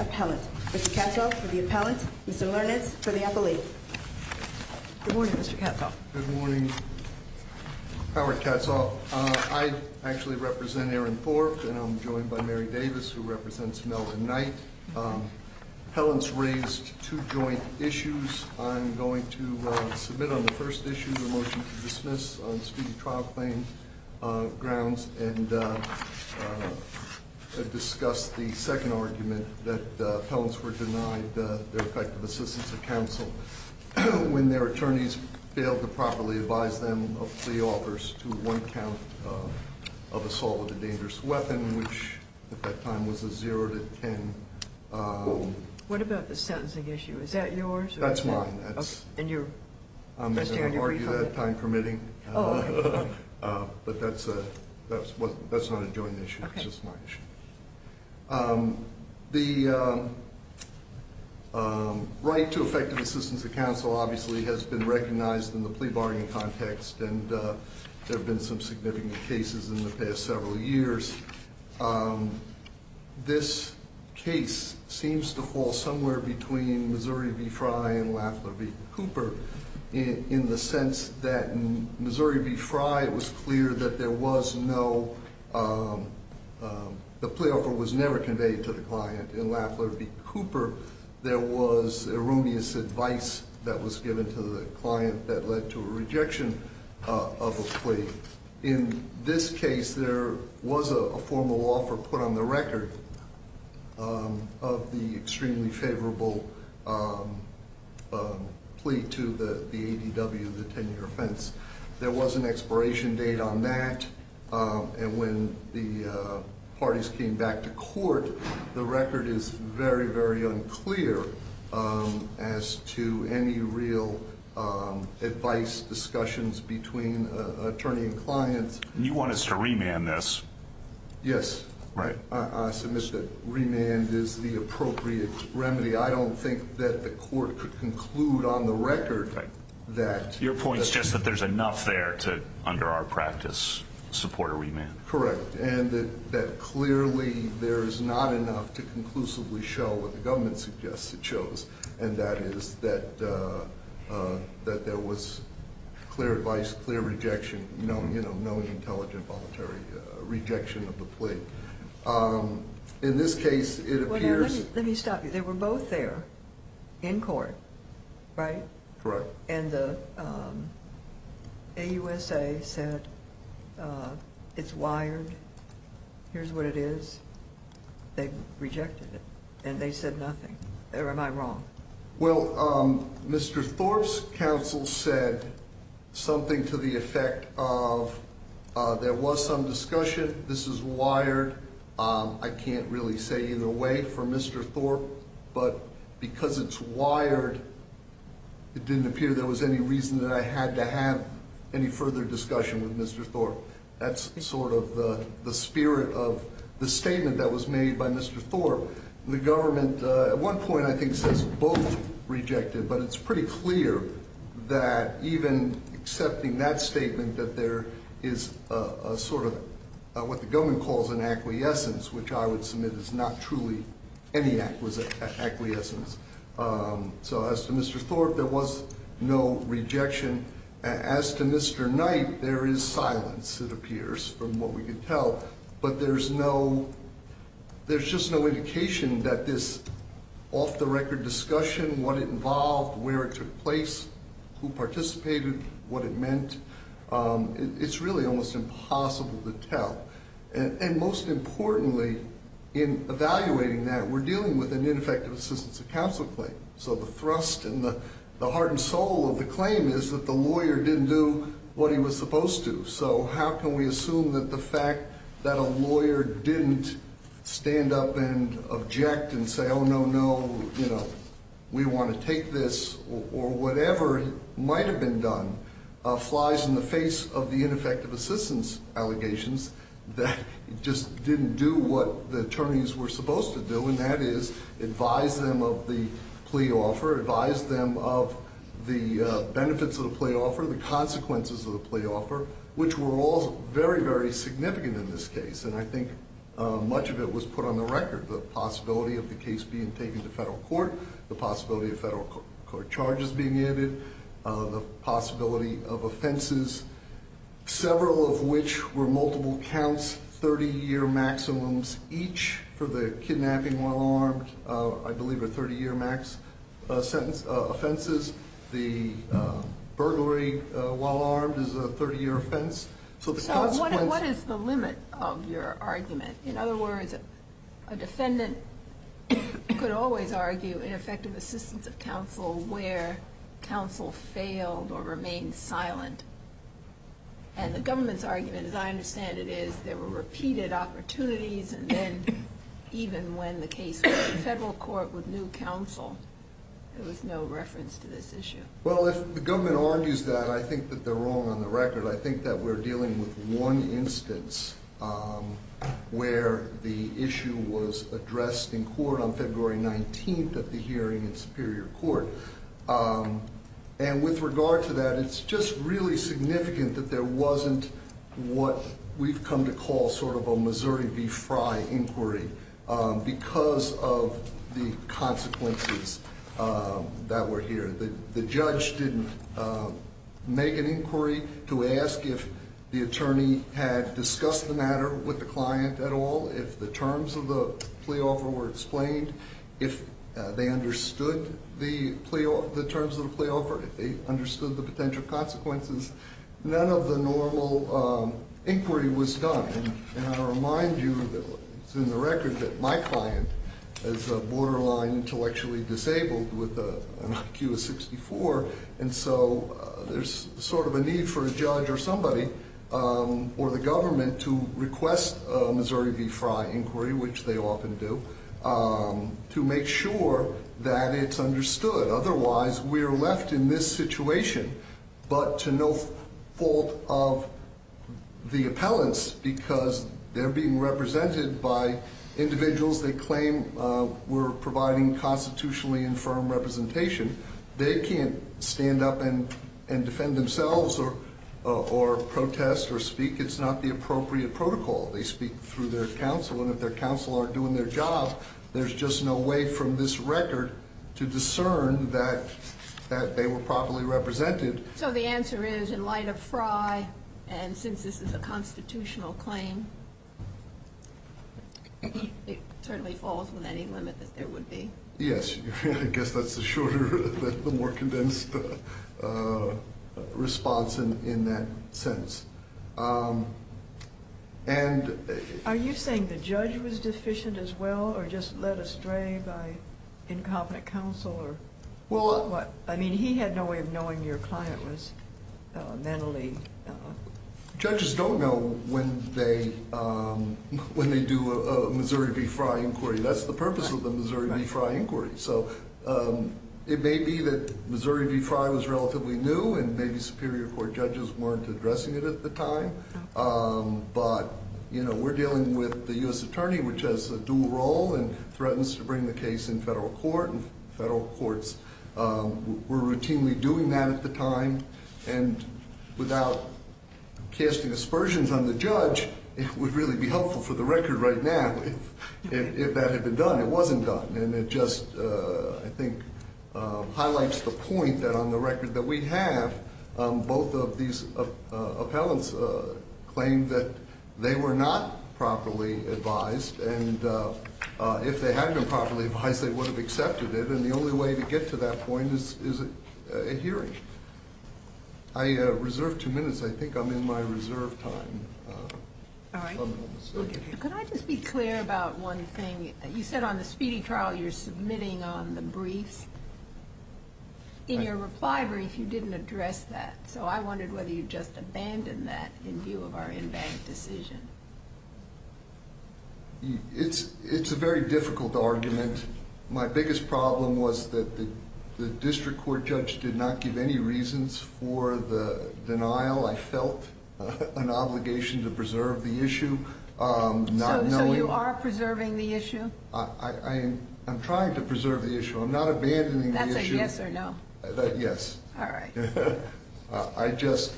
Appellant. Mr. Katzoff for the Appellant. Mr. Lernitz for the Appellate. Good morning, Mr. Katzoff. Good morning, Howard Katzoff. I actually represent Erin Forb and I'm joined by Mary Davis who represents Melvin Knight. Appellants raised two joint issues. I'm going to submit on the first issue a motion to dismiss on speedy trial claim grounds and discuss the second argument that appellants were denied their effective assistance of counsel when their attorneys failed to properly advise them of plea offers to one count of assault with a dangerous weapon, which at that time was a zero to ten. What about the sentencing issue? Is that yours? That's mine. I'm going to argue that time permitting. But that's not a joint issue. It's just my issue. The right to effective assistance of counsel obviously has been recognized in the plea bargaining context and there have been some significant cases in the past several years. This case seems to fall somewhere between Missouri v. Fry and Lafler v. Cooper in the sense that in Missouri v. Fry it was clear that there was no, the plea offer was never conveyed to the client. In Lafler v. Cooper there was erroneous advice that was given to the client that led to a rejection of a plea. In this case there was a formal offer put on the record of the extremely favorable plea to the ADW, the tenure offense. There was an expiration date on that and when the parties came back to court the record is very, very unclear as to any real advice discussions between attorney and client. You want us to remand this? Yes. I submit that remand is the appropriate remedy. I don't think that the court could conclude on the record that Your point is just that there's enough there to, under our practice, support a remand. Correct. And that clearly there is not enough to conclusively show what the government suggests it shows and that is that there was clear advice, clear rejection, no intelligent, voluntary rejection of the plea. Let me stop you. They were both there in court, right? Correct. And the AUSA said it's wired, here's what it is. They rejected it and they said nothing. Or am I wrong? Well, Mr. Thorpe's counsel said something to the effect of there was some discussion, this is wired, I can't really say either way for Mr. Thorpe, but because it's wired it didn't appear there was any reason that I had to have any further discussion with Mr. Thorpe. That's sort of the spirit of the statement that was made by Mr. Thorpe. The government at one point I think says both rejected, but it's pretty clear that even accepting that statement that there is a sort of what the government calls an acquiescence, which I would submit is not truly any acquiescence. So as to Mr. Thorpe, there was no rejection. As to Mr. Knight, there is silence it appears from what we could tell, but there's no, there's just no indication that this off the record discussion, what it involved, where it took place, who participated, what it meant, it's really almost impossible to tell. And most importantly in evaluating that we're dealing with an ineffective assistance of counsel claim. So the thrust and the heart and soul of the claim is that the lawyer didn't do what he was supposed to. So how can we assume that the fact that a lawyer didn't stand up and object and say, no, no, we want to take this or whatever might have been done flies in the face of the ineffective assistance allegations that just didn't do what the attorneys were supposed to do. And that is advise them of the plea offer, advise them of the benefits of the plea offer, the consequences of the plea offer, which were all very, very significant in this case. And I think much of it was put on the record, the possibility of the case being taken to federal court, the possibility of federal court charges being added, the possibility of offenses, several of which were multiple counts, 30 year maximums each for the kidnapping while armed, I believe a 30 year max offense, the burglary while armed is a 30 year offense. So what is the limit of your argument? In other words, a defendant could always argue ineffective assistance of counsel where counsel failed or remained silent. And the government's argument, as I understand it, is there were repeated opportunities and then even when the case went to federal court with new counsel, there was no reference to this issue. Well, if the government argues that, I think that they're wrong on the record. I think that we're dealing with one instance where the issue was addressed in court on February 19th at the hearing in Superior Court. And with regard to that, it's just really significant that there wasn't what we've come to call sort of a Missouri v. Frye inquiry because of the consequences that were here. The judge didn't make an inquiry to ask if the attorney had discussed the matter with the client at all, if the terms of the plea offer were explained, if they understood the terms of the plea offer, if they understood the potential consequences. None of the normal inquiry was done. And I remind you that it's in the record that my client is a borderline intellectually disabled with an IQ of 64. And so there's sort of a need for a judge or somebody or the government to request a Missouri v. Frye inquiry, which they often do, to make sure that it's understood. Otherwise, we are left in this situation but to no fault of the appellants because they're being represented by individuals they claim were providing constitutionally infirm representation. They can't stand up and defend themselves or protest or speak. It's not the appropriate protocol. They speak through their counsel. And if their counsel aren't doing their job, there's just no way from this record to discern that they were properly represented. So the answer is, in light of Frye, and since this is a constitutional claim, it certainly falls within any limit that there would be. Yes. I guess that's the shorter, the more condensed response in that sense. Are you saying the judge was deficient as well or just led astray by incompetent counsel? I mean, he had no way of knowing your client was mentally... But, you know, we're dealing with the U.S. attorney, which has a dual role and threatens to bring the case in federal court. And federal courts were routinely doing that at the time. And without casting aspersions on the judge, it would really be helpful for the record right now if that had been done. It wasn't done. And it just, I think, highlights the point that on the record that we have, both of these appellants claimed that they were not properly advised. And if they had been properly advised, they would have accepted it. And the only way to get to that point is a hearing. I reserve two minutes. I think I'm in my reserve time. Could I just be clear about one thing? You said on the speedy trial you're submitting on the briefs. In your reply brief, you didn't address that. So I wondered whether you'd just abandon that in view of our in-bank decision. It's a very difficult argument. My biggest problem was that the district court judge did not give any reasons for the denial. I felt an obligation to preserve the issue. So you are preserving the issue? I'm trying to preserve the issue. I'm not abandoning the issue. That's a yes or no? Yes. All right. I just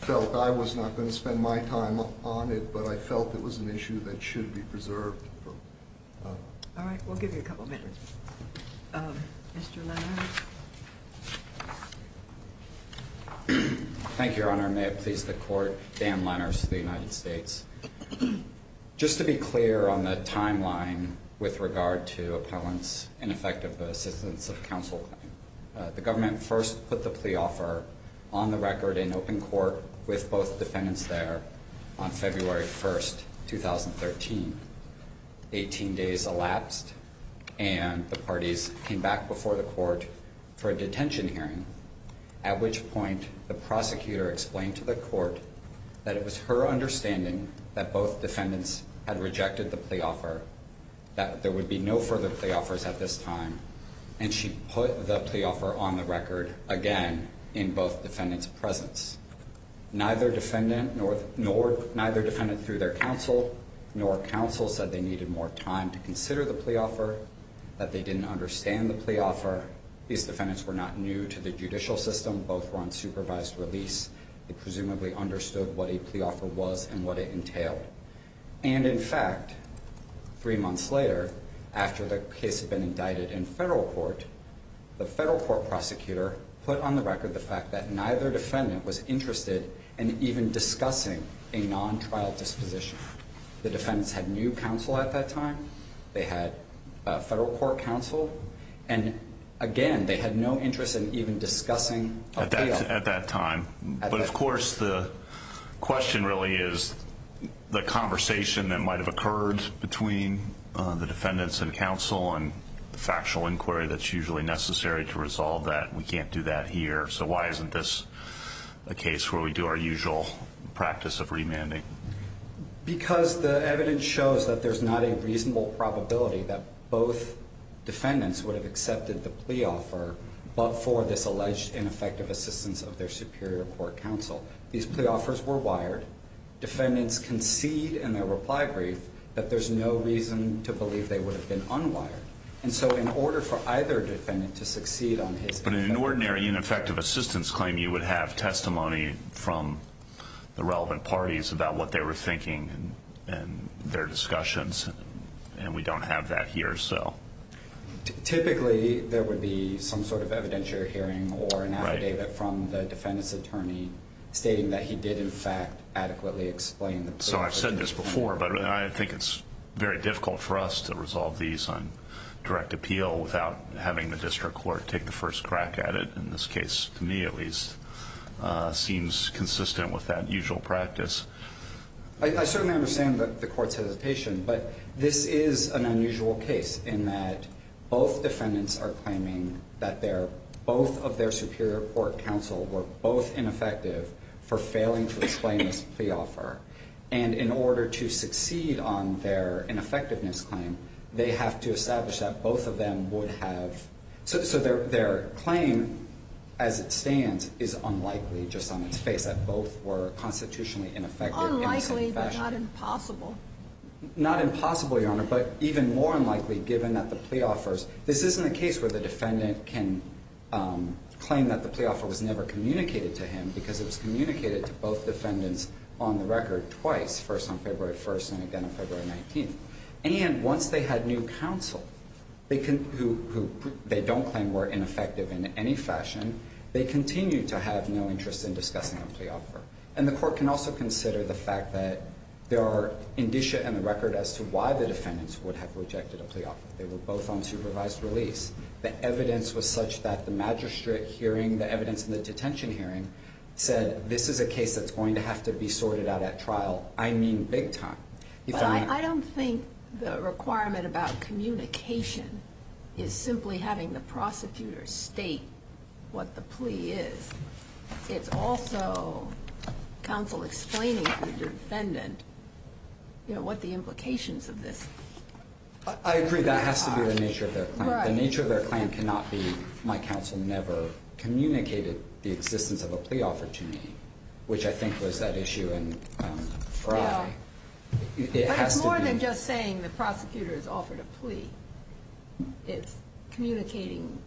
felt I was not going to spend my time on it, but I felt it was an issue that should be preserved. All right. We'll give you a couple minutes. Mr. Lenners? Thank you, Your Honor. May it please the Court, Dan Lenners of the United States. Just to be clear on the timeline with regard to appellants in effect of the assistance of counsel, the government first put the plea offer on the record in open court with both defendants there on February 1st, 2013. Eighteen days elapsed, and the parties came back before the court for a detention hearing, at which point the prosecutor explained to the court that it was her understanding that both defendants had rejected the plea offer, that there would be no further plea offers at this time, and she put the plea offer on the record again in both defendants' presence. Neither defendant through their counsel nor counsel said they needed more time to consider the plea offer, that they didn't understand the plea offer. These defendants were not new to the judicial system. Both were on supervised release. They presumably understood what a plea offer was and what it entailed. And in fact, three months later, after the case had been indicted in federal court, the federal court prosecutor put on the record the fact that neither defendant was interested in even discussing a non-trial disposition. The defendants had new counsel at that time, they had federal court counsel, and again, they had no interest in even discussing a plea offer. But of course, the question really is the conversation that might have occurred between the defendants and counsel and the factual inquiry that's usually necessary to resolve that. We can't do that here, so why isn't this a case where we do our usual practice of remanding? Because the evidence shows that there's not a reasonable probability that both defendants would have accepted the plea offer but for this alleged ineffective assistance of their superior court counsel. These plea offers were wired. Defendants concede in their reply brief that there's no reason to believe they would have been unwired. And so in order for either defendant to succeed on his claim... But in an ordinary ineffective assistance claim, you would have testimony from the relevant parties about what they were thinking and their discussions, and we don't have that here, so... Typically, there would be some sort of evidentiary hearing or an affidavit from the defendant's attorney stating that he did in fact adequately explain the plea offer. So I've said this before, but I think it's very difficult for us to resolve these on direct appeal without having the district court take the first crack at it. In this case, to me at least, seems consistent with that usual practice. I certainly understand the court's hesitation, but this is an unusual case in that both defendants are claiming that both of their superior court counsel were both ineffective for failing to explain this plea offer. And in order to succeed on their ineffectiveness claim, they have to establish that both of them would have... So their claim, as it stands, is unlikely, just on its face, that both were constitutionally ineffective in the same fashion. Unlikely, but not impossible. Not impossible, Your Honor, but even more unlikely given that the plea offers... This isn't a case where the defendant can claim that the plea offer was never communicated to him because it was communicated to both defendants on the record twice, first on February 1st and again on February 19th. And once they had new counsel who they don't claim were ineffective in any fashion, they continue to have no interest in discussing a plea offer. And the court can also consider the fact that there are indicia in the record as to why the defendants would have rejected a plea offer. They were both on supervised release. The evidence was such that the magistrate hearing, the evidence in the detention hearing, said this is a case that's going to have to be sorted out at trial. I mean big time. But I don't think the requirement about communication is simply having the prosecutor state what the plea is. It's also counsel explaining to the defendant, you know, what the implications of this... I agree that has to be the nature of their claim. The nature of their claim cannot be my counsel never communicated the existence of a plea offer to me, which I think was that issue in Frye. But it's more than just saying the prosecutor has offered a plea. It's communicating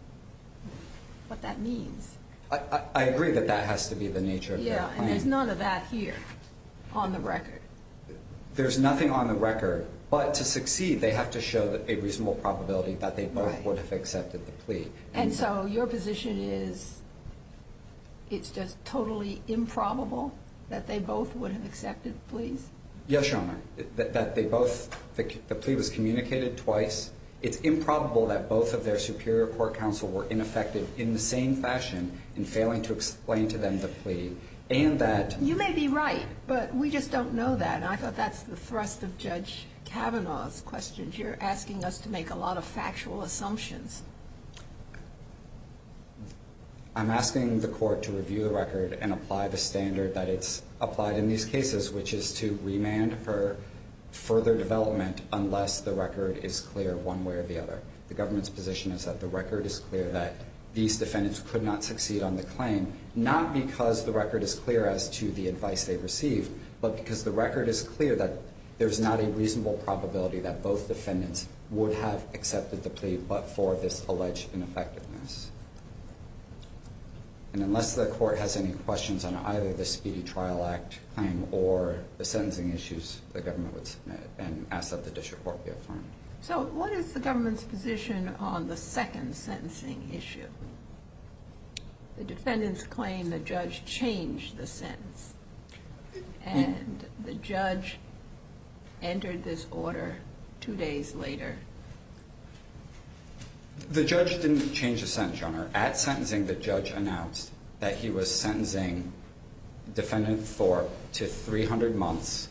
what that means. I agree that that has to be the nature of their claim. Yeah, and there's none of that here on the record. There's nothing on the record. But to succeed, they have to show a reasonable probability that they both would have accepted the plea. And so your position is it's just totally improbable that they both would have accepted the plea? Yes, Your Honor, that the plea was communicated twice. It's improbable that both of their superior court counsel were ineffective in the same fashion in failing to explain to them the plea. You may be right, but we just don't know that. And I thought that's the thrust of Judge Kavanaugh's questions. You're asking us to make a lot of factual assumptions. I'm asking the court to review the record and apply the standard that it's applied in these cases, which is to remand for further development unless the record is clear one way or the other. The government's position is that the record is clear that these defendants could not succeed on the claim, not because the record is clear as to the advice they received, but because the record is clear that there's not a reasonable probability that both defendants would have accepted the plea, but for this alleged ineffectiveness. And unless the court has any questions on either the Speedy Trial Act claim or the sentencing issues, the government would submit and ask that the dish report be affirmed. So what is the government's position on the second sentencing issue? The defendants claim the judge changed the sentence, and the judge entered this order two days later. The judge didn't change the sentence, Your Honor. At sentencing, the judge announced that he was sentencing defendant Thorpe to 300 months,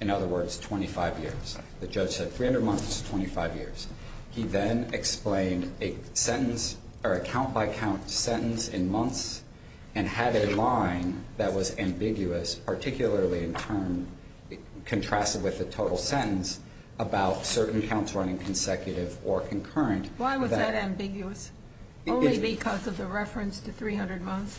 in other words, 25 years. The judge said 300 months, 25 years. He then explained a sentence or a count-by-count sentence in months and had a line that was ambiguous, particularly in turn contrasted with the total sentence, about certain counts running consecutive or concurrent. Why was that ambiguous? Only because of the reference to 300 months?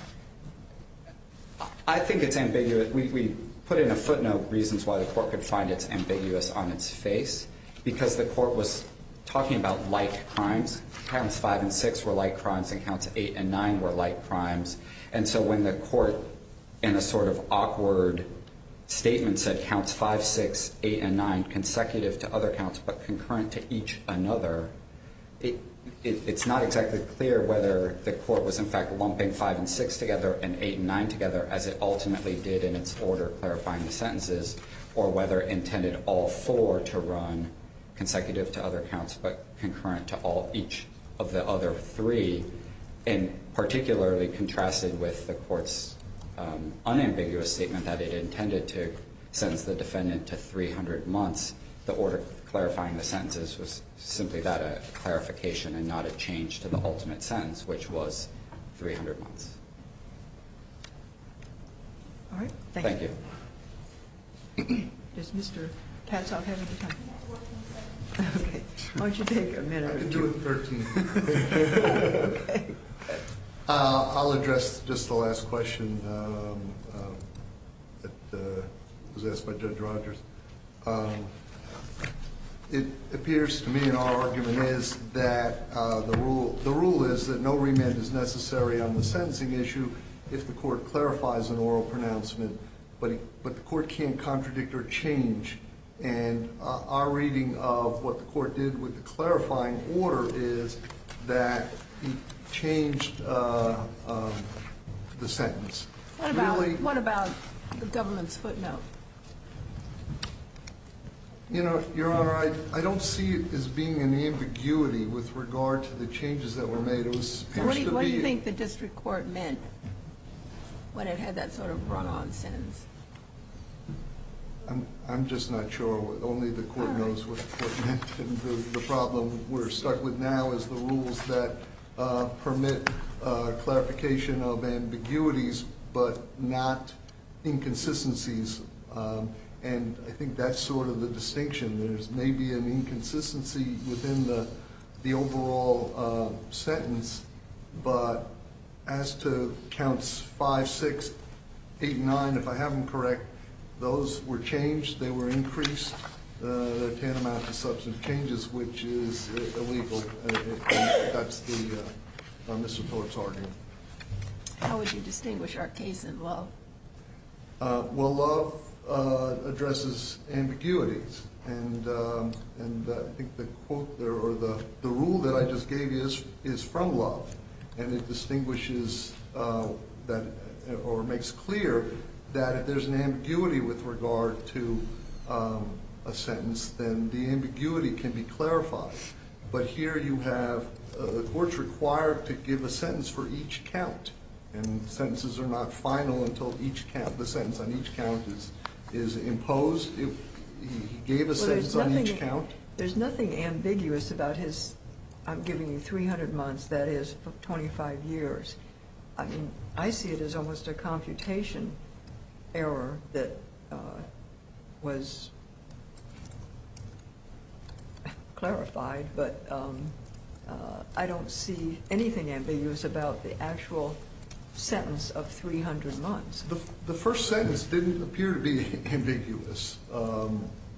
I think it's ambiguous. We put in a footnote reasons why the court could find it ambiguous on its face, because the court was talking about like crimes. Counts 5 and 6 were like crimes, and counts 8 and 9 were like crimes. And so when the court, in a sort of awkward statement, said counts 5, 6, 8, and 9 consecutive to other counts but concurrent to each another, it's not exactly clear whether the court was, in fact, clumping 5 and 6 together and 8 and 9 together as it ultimately did in its order clarifying the sentences or whether it intended all four to run consecutive to other counts but concurrent to each of the other three. And particularly contrasted with the court's unambiguous statement that it intended to sentence the defendant to 300 months, the order clarifying the sentences was simply that, a clarification and not a change to the ultimate sentence, which was 300 months. All right. Thank you. Thank you. Does Mr. Patzalk have any time? Okay. Why don't you take a minute? I can do it in 13 minutes. Okay. I'll address just the last question that was asked by Judge Rogers. It appears to me in our argument is that the rule is that no remand is necessary on the sentencing issue if the court clarifies an oral pronouncement, but the court can't contradict or change. And our reading of what the court did with the clarifying order is that it changed the sentence. What about the government's footnote? Your Honor, I don't see it as being an ambiguity with regard to the changes that were made. What do you think the district court meant when it had that sort of run-on sentence? I'm just not sure. Only the court knows what the problem we're stuck with now is the rules that permit clarification of ambiguities, but not inconsistencies, and I think that's sort of the distinction. There's maybe an inconsistency within the overall sentence, but as to counts 5, 6, 8, and 9, if I have them correct, those were changed. They were increased. They're tantamount to substantive changes, which is illegal. That's the district court's argument. How would you distinguish our case in Love? Well, Love addresses ambiguities, and I think the rule that I just gave you is from Love, and it distinguishes or makes clear that if there's an ambiguity with regard to a sentence, then the ambiguity can be clarified. But here you have courts required to give a sentence for each count, and sentences are not final until the sentence on each count is imposed. He gave a sentence on each count. There's nothing ambiguous about his I'm giving you 300 months, that is, for 25 years. I mean, I see it as almost a computation error that was clarified, but I don't see anything ambiguous about the actual sentence of 300 months. The first sentence didn't appear to be ambiguous,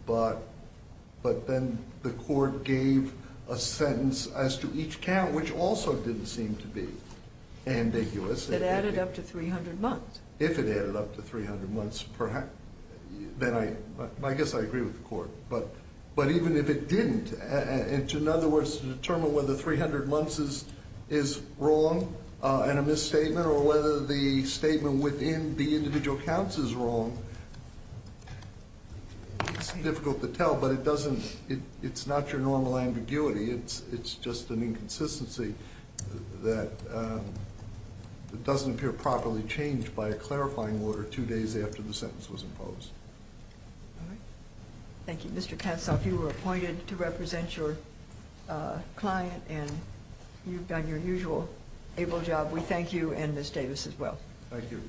but then the court gave a sentence as to each count, which also didn't seem to be ambiguous. It added up to 300 months. If it added up to 300 months, then I guess I agree with the court. But even if it didn't, in other words, to determine whether 300 months is wrong and a misstatement, or whether the statement within the individual counts is wrong, it's difficult to tell. But it's not your normal ambiguity. It's just an inconsistency that doesn't appear properly changed by a clarifying order two days after the sentence was imposed. Thank you. Mr. Katzoff, you were appointed to represent your client, and you've done your usual able job. We thank you and Ms. Davis as well. Thank you.